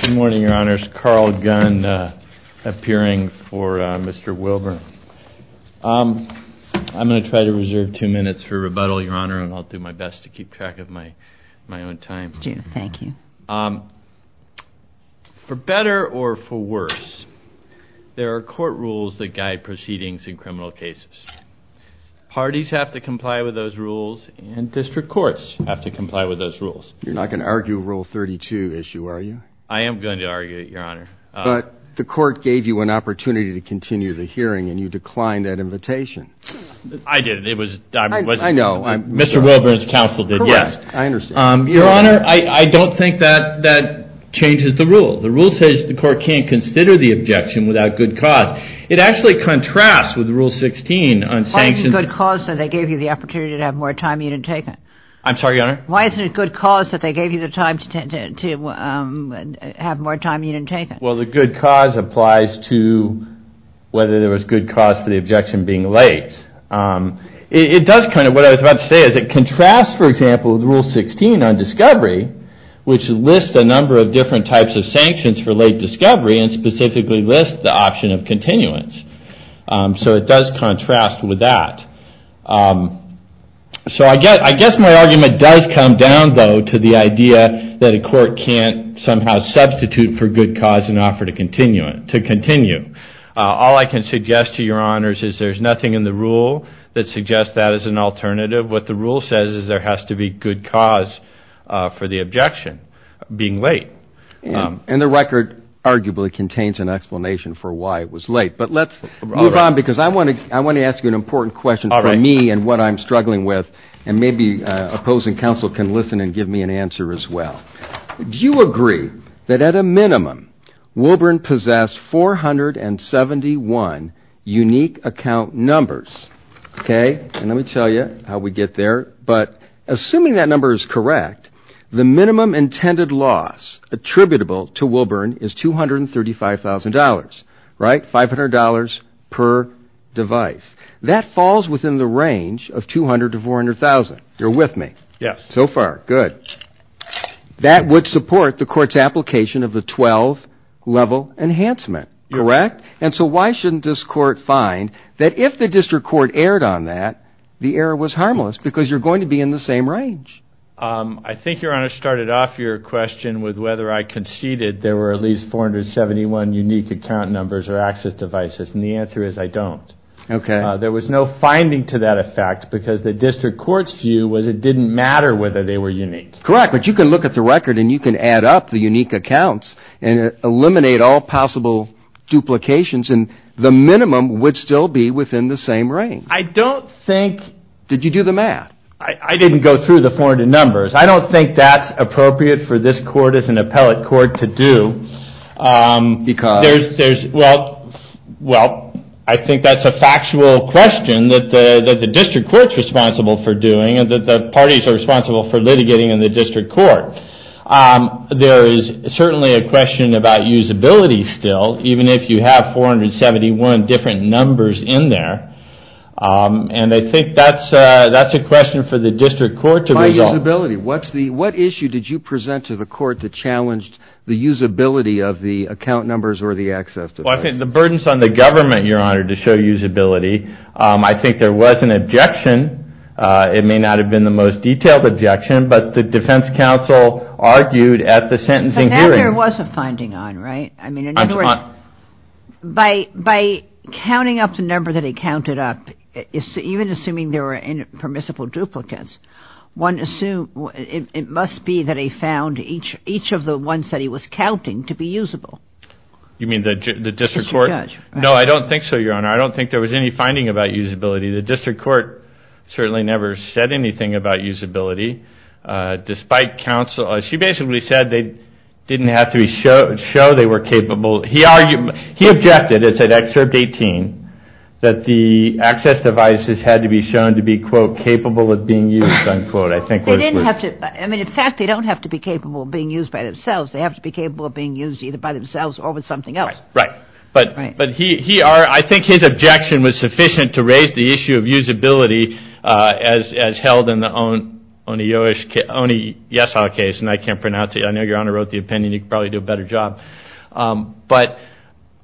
Good morning, your honors. Carl Gunn appearing for Mr. Wilburn. I'm going to try to reserve two minutes for rebuttal, your honor, and I'll do my best to keep track of my own time. Thank you. For better or for worse, there are court rules that guide proceedings in criminal cases. Parties have to comply with those rules and district courts have to comply with those rules. You're not going to argue rule 32 issue, are you? I am going to argue it, your honor. But the court gave you an opportunity to continue the hearing and you declined that invitation. I didn't. I know. Mr. Wilburn's counsel did, yes. Your honor, I don't think that that changes the rule. The rule says the court can't consider the objection without good cause. It actually contrasts with rule 16 on sanctions. Why isn't good cause that they gave you the opportunity to have more time you didn't take it? I'm Well, the good cause applies to whether there was good cause for the objection being late. It does kind of, what I was about to say is it contrasts, for example, with rule 16 on discovery, which lists a number of different types of sanctions for late discovery and specifically lists the option of continuance. So it does contrast with that. So I guess my argument does come down, though, to the idea that a court can't somehow substitute for good cause and offer to continue it to continue. All I can suggest to your honors is there's nothing in the rule that suggests that as an alternative. What the rule says is there has to be good cause for the objection being late. And the record arguably contains an explanation for why it was late. But let's move on because I want to I want to ask you an important question for me and what I'm struggling with. And maybe opposing counsel can listen and give me an answer as well. Do you agree that at a minimum, Wilburn possessed four hundred and seventy one unique account numbers? OK, let me tell you how we get there. But assuming that number is correct, the minimum intended loss attributable to Wilburn is two hundred thousand. You're with me. Yes. So far. Good. That would support the court's application of the twelve level enhancement. Correct. And so why shouldn't this court find that if the district court erred on that, the error was harmless because you're going to be in the same range? I think your honor started off your question with whether I conceded there were at least four hundred seventy one unique account numbers or access devices. And the answer is I don't. OK, there was no finding to that effect because the district court's view was it didn't matter whether they were unique. Correct. But you can look at the record and you can add up the unique accounts and eliminate all possible duplications and the minimum would still be within the same range. I don't think. Did you do the math? I didn't go through the four hundred numbers. I don't think that's appropriate for this court as an appellate court to do because there's well, well, I think that's a factual question that the district court's responsible for doing and that the parties are responsible for litigating in the district court. There is certainly a question about usability still, even if you have four hundred seventy one different numbers in there. And I think that's that's a question for the district court to use ability. What's the what issue did you present to the court that challenged the usability of the account numbers or the access to the burdens on the government, your honor, to show usability? I think there was an objection. It may not have been the most detailed objection, but the defense counsel argued at the sentencing hearing. There was a finding on right. I mean, in other words, by by counting up the number that he counted up, even assuming there were permissible duplicates, one assume it must be that he found each each of the ones that he was counting to be usable. You mean the district court? No, I don't think so, your honor. I don't think there was any finding about usability. The district court certainly never said anything about usability despite counsel. She basically said they didn't have to be showed, show they were capable. He argued he objected. It's an excerpt 18 that the access devices had to be shown to be, quote, capable of being used, unquote. I think they didn't have to. I mean, in fact, they don't have to be capable of being used by themselves. They have to be capable of being used either by themselves or with something else. Right. But but he he are. I think his objection was sufficient to raise the issue of usability as as held in the own on a Jewish only. Yes, our case. And I can't pronounce it. I know your honor wrote the opinion. You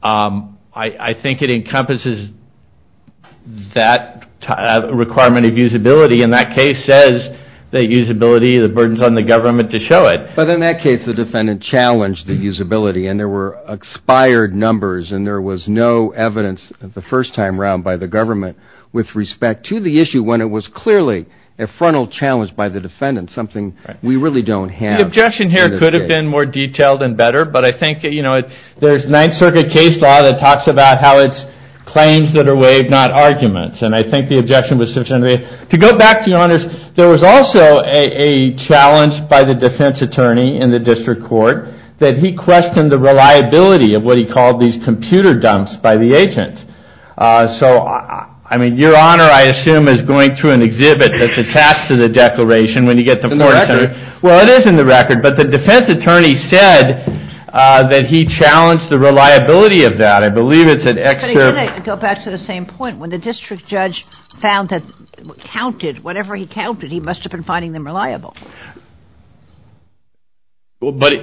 know, I think it encompasses that requirement of usability. And that case says that usability, the burdens on the government to show it. But in that case, the defendant challenged the usability and there were expired numbers and there was no evidence of the first time round by the government with respect to the issue when it was clearly a frontal challenge by the defendant, something we really don't have. Objection here could have been more detailed and better. But I think, you know, there's Ninth Circuit case law that talks about how it's claims that are waived, not arguments. And I think the objection was sufficient to go back to your honors. There was also a challenge by the defense attorney in the district court that he questioned the reliability of what he called these computer dumps by the agent. So, I mean, your honor, I assume is going through an exhibit that's attached to the declaration when you get the. Well, it is in the record. But the defense reliability of that, I believe it's an extra. Go back to the same point. When the district judge found that counted, whatever he counted, he must have been finding them reliable. Well, buddy.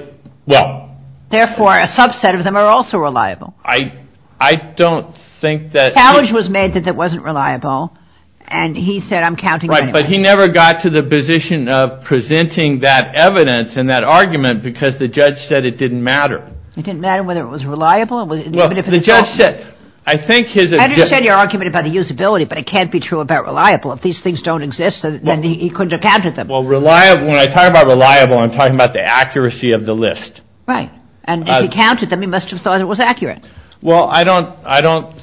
Well, therefore, a subset of them are also reliable. I, I don't think that challenge was made that that wasn't reliable. And he said, I'm counting. But he never got to the position of presenting that evidence in that argument because the judge said it didn't matter. It didn't matter whether it was reliable. Well, the judge said, I think his argument about the usability, but it can't be true about reliable. If these things don't exist, then he couldn't have counted them. Well, reliable. When I talk about reliable, I'm talking about the accuracy of the list. Right. And if he counted them, he must have thought it was accurate. Well, I don't I don't.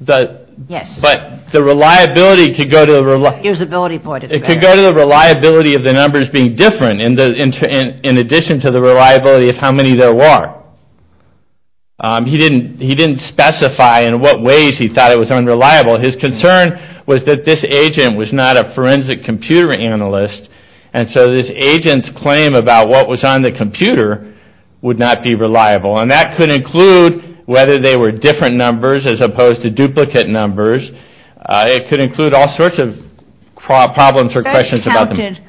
But yes, but the reliability could go to the reliability. It could go to the reliability of the numbers being different in the in addition to the reliability of how many there were. He didn't he didn't specify in what ways he thought it was unreliable. His concern was that this agent was not a forensic computer analyst. And so this agent's claim about what was on the computer would not be reliable. And that could include whether they were different numbers as opposed to duplicate numbers. It could include all sorts of problems or questions about them. He counted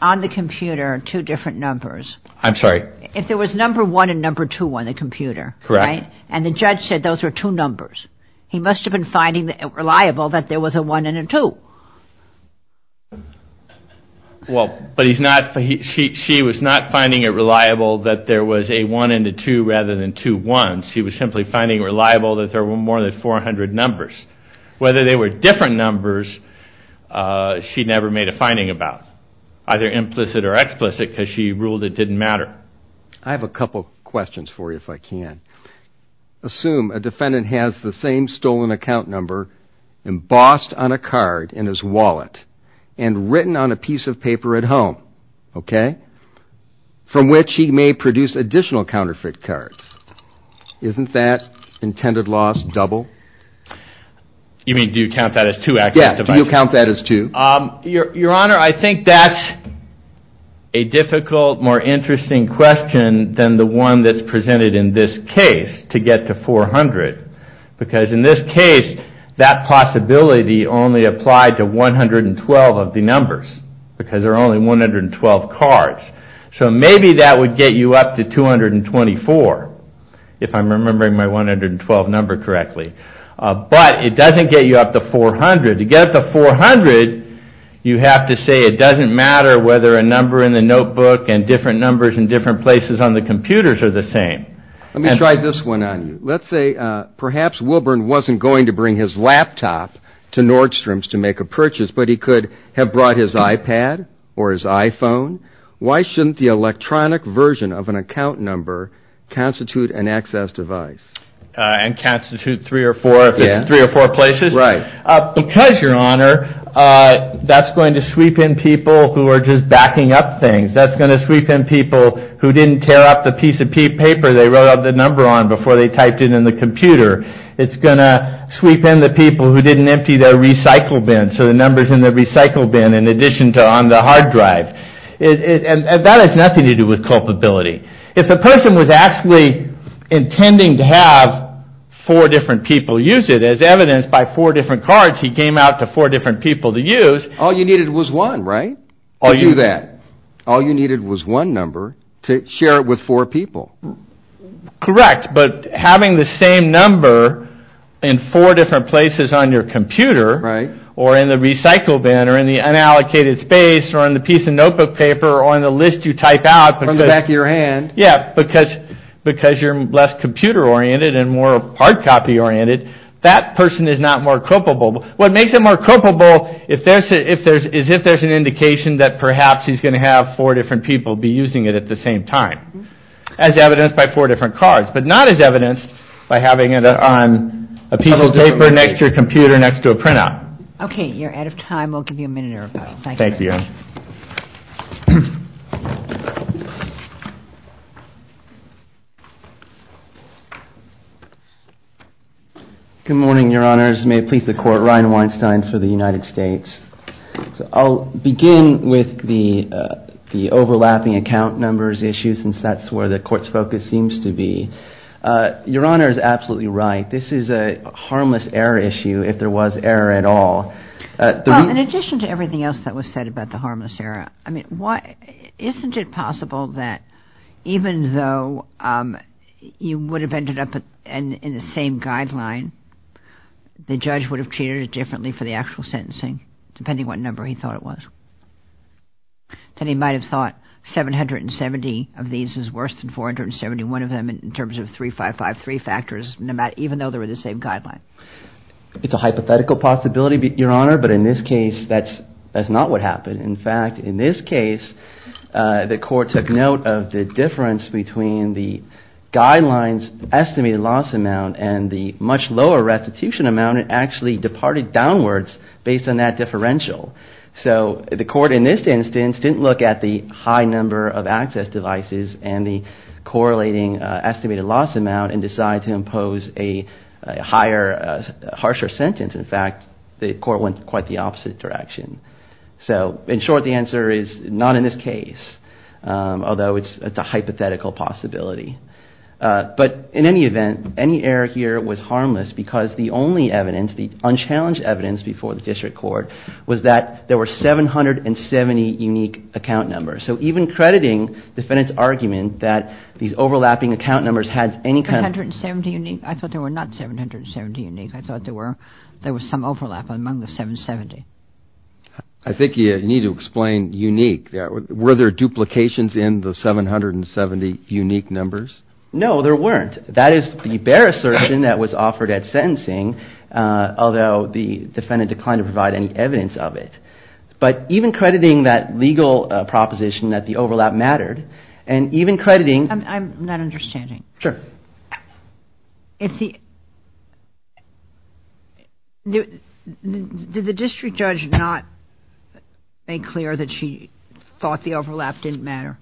on the computer two different numbers. I'm sorry. If there was number one and number two on the computer. Correct. And the judge said those were two numbers. He must have been finding it reliable that there was a one and a two. Well, but he's not. She was not finding it reliable that there was a one and a two rather than two ones. He was simply finding reliable that there were more than 400 numbers. Whether they were different numbers. She never made a finding about either implicit or explicit because she ruled it didn't matter. I have a couple of questions for you if I can. Assume a defendant has the same stolen account number embossed on a card in his wallet and written on a piece of paper at home. OK. From which he may produce additional counterfeit cards. Isn't that intended loss double? You mean do you count that as two active devices? Yes. Do you count that as two? Your Honor, I think that's a difficult, more interesting question than the one that's presented in this case to get to 400 because in this case that possibility only applied to 112 of the numbers because there are only 112 cards. So maybe that would get you up to 224 if I'm remembering my 112 number correctly. But it doesn't get you up to 400. To get up to 400 you have to say it doesn't matter whether a number in the notebook and different numbers in different places on the computers are the same. Let me try this one on you. Let's say perhaps Wilburn wasn't going to bring his laptop to Nordstrom's to make a purchase but he could have brought his iPad or his iPhone. Why shouldn't the electronic version of an account number constitute an access device? And constitute three or four if it's in three or four places? Right. Because, Your Honor, that's going to sweep in people who are just backing up things. That's going to sweep in people who didn't tear up the piece of paper they wrote the number on before they typed it in the computer. It's going to sweep in the people who didn't empty their recycle bin so the number's in the recycle bin in addition to on the hard drive. And that has nothing to do with culpability. If the person was actually intending to have four different people use it, as evidenced by four different cards he came out to four different people to use. All you needed was one, right? To do that. All you needed was one number to share it with four people. Correct, but having the same number in four different places on your computer or in the recycle bin or in the unallocated space or in the piece of notebook paper or on the list you type out. From the back of your hand. Yeah, because you're less computer oriented and more hard copy oriented that person is not more culpable. What makes him more culpable is if there's an indication that perhaps he's going to have four different people be using it at the same time. As evidenced by four different cards, but not as evidenced by having it on a piece of paper next to your computer next to a printout. Okay, you're out of time. We'll give you a minute or so. Thank you. Good morning, your honors. May it please the court. Ryan Weinstein for the United States. I'll begin with the overlapping account numbers issue since that's where the court's focus seems to be. Your honor is absolutely right. This is a harmless error issue if there was error at all. In addition to everything else that was said about the harmless error, I mean, why isn't it possible that even though you would have ended up in the same guideline, the judge would have treated it differently for the actual sentencing, depending what number he thought it was. Then he might have thought 770 of these is worse than 471 of them in terms of 3553 factors, even though they were the same guideline. It's a hypothetical possibility, your honor, but in this case that's not what happened. In fact, in this case, the court took note of the difference between the guidelines estimated loss amount and the much lower restitution amount. It actually departed downwards based on that differential. So the court in this instance didn't look at the high number of access devices and the correlating estimated loss amount and decided to impose a higher, harsher sentence. In fact, the court went quite the opposite direction. So in short, the answer is not in this case, although it's a hypothetical possibility. But in any event, any error here was harmless because the only evidence, the unchallenged evidence before the district court was that there were 770 unique account numbers. So even crediting defendant's argument that these overlapping account numbers had any kind of... 770 unique? I thought there were not 770 unique. I thought there were, there was some overlap among the 770. I think you need to explain unique. Were there duplications in the 770 unique numbers? No, there weren't. That is the bare assertion that was offered at sentencing, although the defendant declined to provide any evidence of it. But even crediting that legal proposition that the overlap mattered, and even crediting... I'm not understanding. Sure. Did the district judge not make clear that she thought the overlap didn't matter?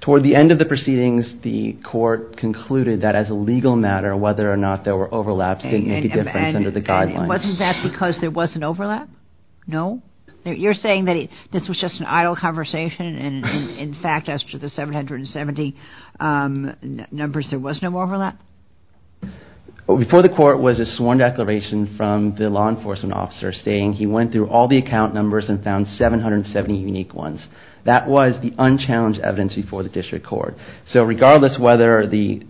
Toward the end of the proceedings, the court concluded that as a legal matter, whether or not there were overlaps didn't make a difference under the guidelines. And wasn't that because there was an overlap? No? You're saying that this was just an idle conversation and in fact, as to the 770 numbers, there was no overlap? Before the court was a sworn declaration from the law enforcement officer saying he went through all the account numbers and found 770 unique ones. That was the unchallenged evidence before the district court. So regardless whether the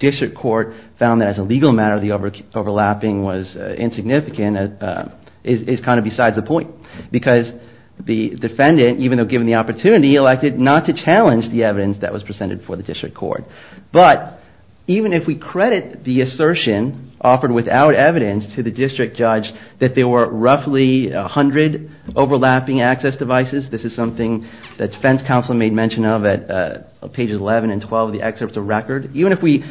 district court found that as a legal matter, the overlapping was insignificant, is kind of besides the point. Because the defendant, even though given the opportunity, elected not to challenge the evidence that was presented before the district court. But even if we credit the assertion offered without evidence to the district judge that there were roughly 100 overlapping access devices, this is something that defense counsel made mention of at pages 11 and 12 of the excerpts of record. Even if we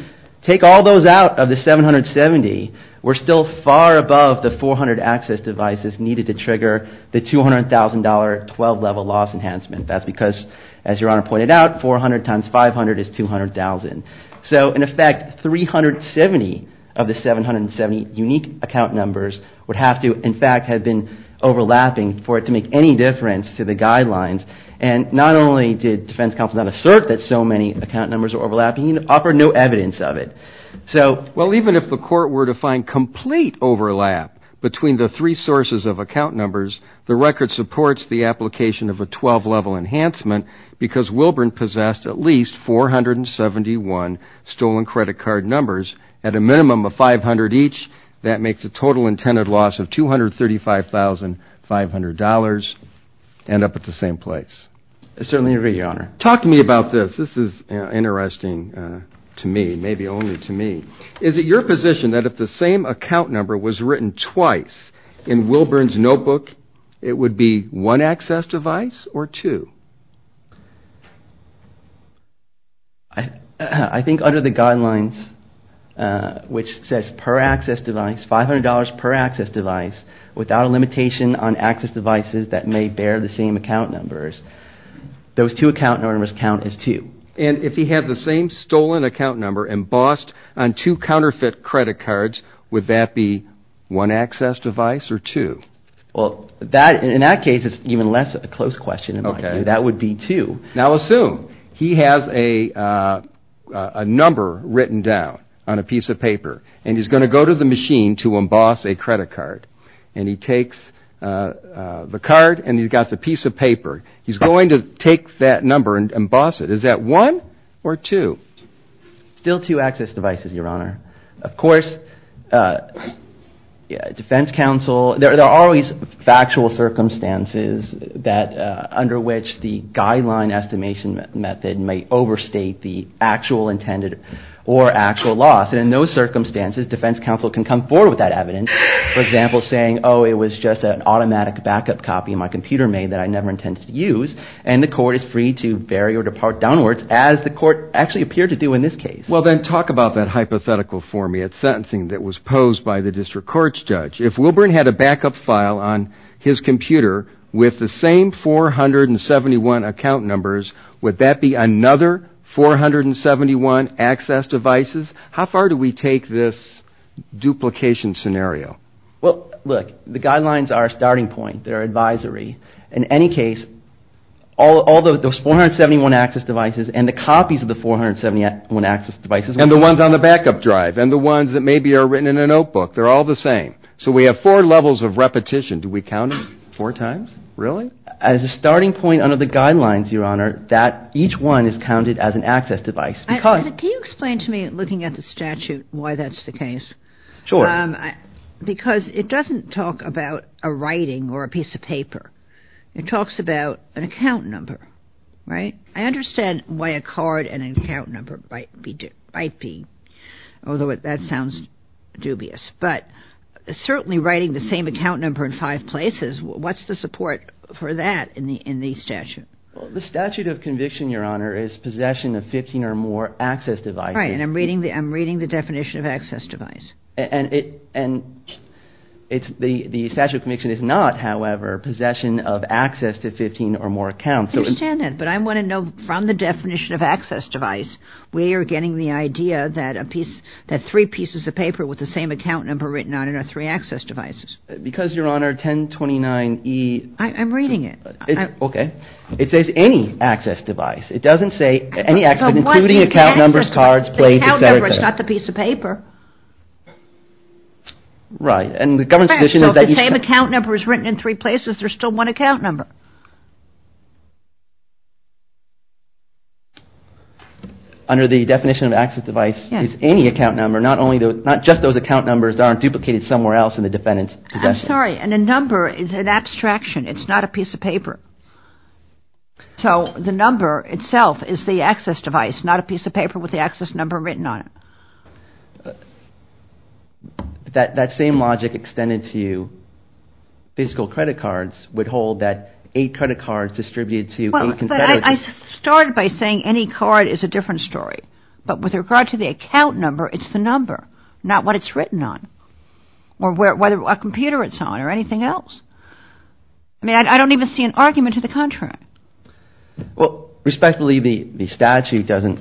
take all those out of the 770, we're still far above the 400 access devices needed to trigger the $200,000 12 level loss enhancement. That's because, as your honor pointed out, 400 times 500 is 200,000. So in effect, 370 of the 770 unique account numbers would have to end up being in fact had been overlapping for it to make any difference to the guidelines. And not only did defense counsel not assert that so many account numbers are overlapping, he offered no evidence of it. So well, even if the court were to find complete overlap between the three sources of account numbers, the record supports the application of a 12 level enhancement because Wilburn possessed at least 471 stolen credit card numbers. At a minimum of 500 each, that makes the total intended loss of $235,500 end up at the same place. I certainly agree, your honor. Talk to me about this. This is interesting to me, maybe only to me. Is it your position that if the same account number was written twice in Wilburn's notebook, it would be one access device or two? I think under the guidelines, which says per access device, $500 per access device, without a limitation on access devices that may bear the same account numbers, those two account numbers count as two. And if he had the same stolen account number embossed on two counterfeit credit cards, would that be one access device or two? Well, in that case, it's even less of a close question. That would be two. Now assume he has a number written down on a piece of paper and he's going to go to the machine to emboss a credit card and he takes the card and he's got the piece of paper. He's going to take that number and emboss it. Is that one or two? Still two access devices, your honor. Of course, defense counsel, there are always factual circumstances that under which the guideline estimation method may overstate the actual intended or actual loss. And in those circumstances, defense counsel can come forward with that evidence. For example, saying, oh, it was just an automatic backup copy my computer made that I never intended to use. And the court is free to bury or depart downwards, as the court actually appeared to do in this case. Well, then talk about that hypothetical for me. It's sentencing that was posed by the district court's judge. If Wilburn had a backup file on his computer with the same 471 account numbers, would that be another 471 access devices? How far do we take this duplication scenario? Well, look, the guidelines are a starting point. They're advisory. In any case, all those 471 access devices and the copies of the 471 access devices. And the ones on the backup drive and the ones that maybe are written in a notebook, they're all the same. So we have four levels of repetition. Do we count it four times? Really? As a starting point under the guidelines, your honor, that each one is counted as an access device. Can you explain to me, looking at the statute, why that's the case? Sure. Because it doesn't talk about a writing or a piece of paper. It talks about an account number, right? I understand why a card and an account number might be, although that sounds dubious. But certainly writing the same account number in five places, what's the support for that in the statute? The statute of conviction, your honor, is possession of 15 or more access devices. That's right. And I'm reading the definition of access device. And the statute of conviction is not, however, possession of access to 15 or more accounts. I understand that. But I want to know from the definition of access device, we are getting the idea that three pieces of paper with the same account number written on it are three access devices. Because your honor, 1029E... I'm reading it. Okay. It says any access device. It doesn't say any access device, including account numbers, cards, plates, etc. The account number is not the piece of paper. Right. And the government's position is that... So the same account number is written in three places. There's still one account number. Under the definition of access device is any account number, not just those account numbers that aren't duplicated somewhere else in the defendant's possession. I'm sorry. And the number is an abstraction. It's not a piece of paper. So the number itself is the access device, not a piece of paper with the access number written on it. That same logic extended to physical credit cards would hold that eight credit cards distributed to... Well, I started by saying any card is a different story. But with regard to the account number, it's the number, not what it's written on. Or whether a computer it's on or anything else. I mean, I don't even see an argument to the contrary. Well, respectfully, the statute doesn't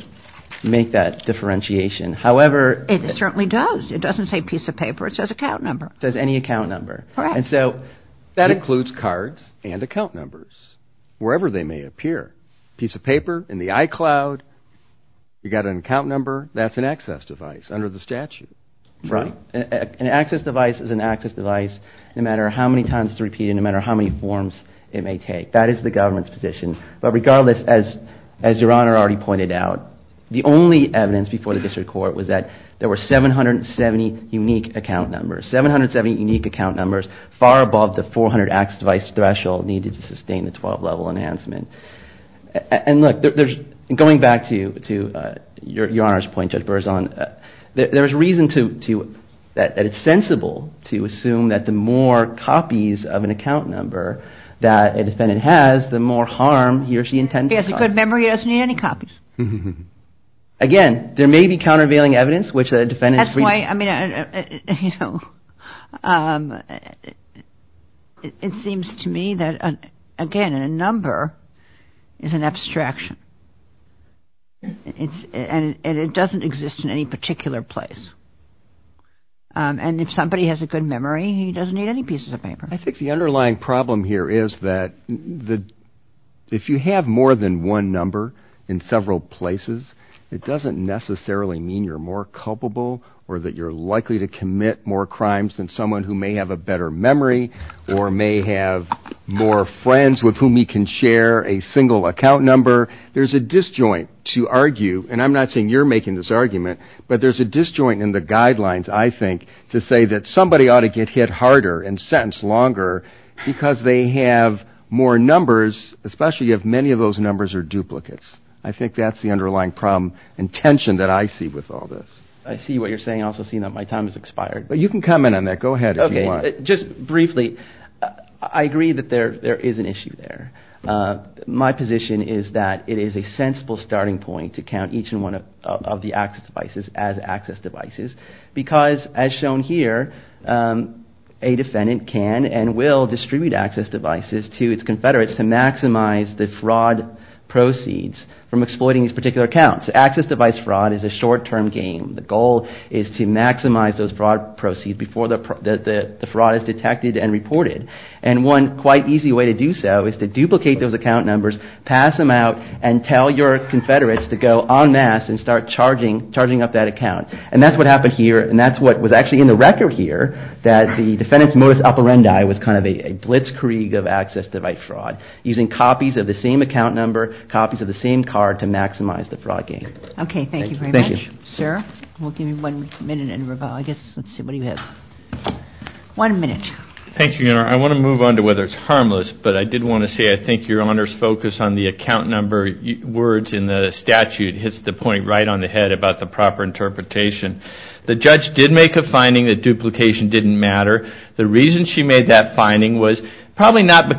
make that differentiation. However... It certainly does. It doesn't say piece of paper. It says account number. It says any account number. And so that includes cards and account numbers wherever they may appear. Piece of paper in the iCloud. You've got an account number. That's an access device under the statute. Right. An access device is an access device no matter how many times it's repeated, no matter how many forms it may take. That is the government's position. But regardless, as Your Honor already pointed out, the only evidence before the district court was that there were 770 unique account numbers. 770 unique account numbers, far above the 400 access device threshold needed to sustain the 12-level enhancement. And look, going back to Your Honor's point, Judge Berzon, there is reason that it's sensible to assume that the more copies of an account number that a defendant has, the more harm he or she intends to cause. He has a good memory. He doesn't need any copies. Again, there may be countervailing evidence which a defendant is... That's why, I mean, you know, it seems to me that, again, a number is an abstraction. And it doesn't exist in any particular place. And if somebody has a good memory, he doesn't need any pieces of paper. I think the underlying problem here is that if you have more than one number in several places, it doesn't necessarily mean you're more culpable or that you're likely to commit more crimes than someone who may have a better memory or may have more friends with whom he can share a single account number. There's a disjoint to argue. And I'm not saying you're making this argument. But there's a disjoint in the guidelines, I think, to say that somebody ought to get hit harder and sentenced longer because they have more numbers, especially if many of those numbers are duplicates. I think that's the underlying problem and tension that I see with all this. I see what you're saying. I also see that my time has expired. But you can comment on that. Go ahead. OK, just briefly, I agree that there is an issue there. My position is that it is a sensible starting point to count each and one of the access devices as access devices because, as shown here, a defendant can and will distribute access devices to its confederates to maximize the fraud proceeds from exploiting these particular accounts. Access device fraud is a short-term game. The goal is to maximize those fraud proceeds before the fraud is detected and reported. And one quite easy way to do so is to duplicate those account numbers, pass them out, and tell your confederates to go en masse and start charging up that account. And that's what happened here. And that's what was actually in the record here, that the defendant's modus operandi was kind of a blitzkrieg of access device fraud, using copies of the same account number, copies of the same card to maximize the fraud game. OK, thank you very much. Sir, we'll give you one minute and rebuttal. I guess, let's see, what do you have? One minute. Thank you, Your Honor. I want to move on to whether it's harmless, but I did want to say I think Your Honor's focus on the account number words in the statute hits the point right on the head about the proper interpretation. The judge did make a finding that duplication didn't matter. The reason she made that finding was probably not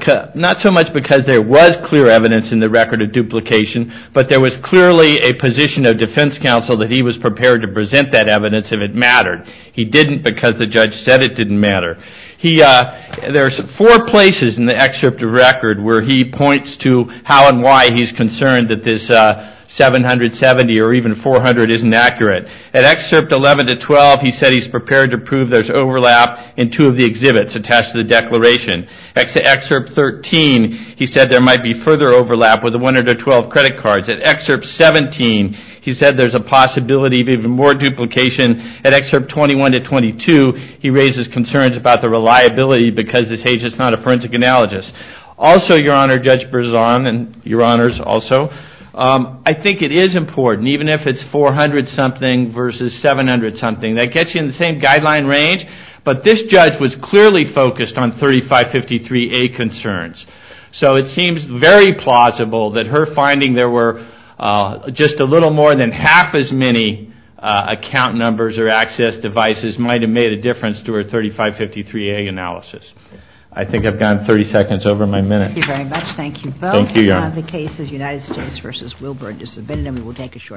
so much because there was clear evidence in the record of duplication, but there was clearly a position of defense counsel that he was prepared to present that evidence if it mattered. He didn't because the judge said it didn't matter. There's four places in the excerpt of record where he points to how and why he's concerned that this 770 or even 400 isn't accurate. At excerpt 11 to 12, he said he's prepared to prove there's overlap in two of the exhibits attached to the declaration. At excerpt 13, he said there might be further overlap with the 112 credit cards. At excerpt 17, he said there's a possibility of even more duplication. At excerpt 21 to 22, he raises concerns about the reliability because this agent's not a forensic analogist. Also, Your Honor, Judge Berzon and Your Honors also, I think it is important even if it's 400-something versus 700-something. That gets you in the same guideline range, but this judge was clearly focused on 3553A concerns, so it seems very plausible that her finding there were just a little more than half as many account numbers or access devices might have made a difference to her 3553A analysis. I think I've gone 30 seconds over my minute. Thank you very much. Thank you both. Thank you, Your Honor. The case is United States v. Wilbur. Just a minute and we will take a short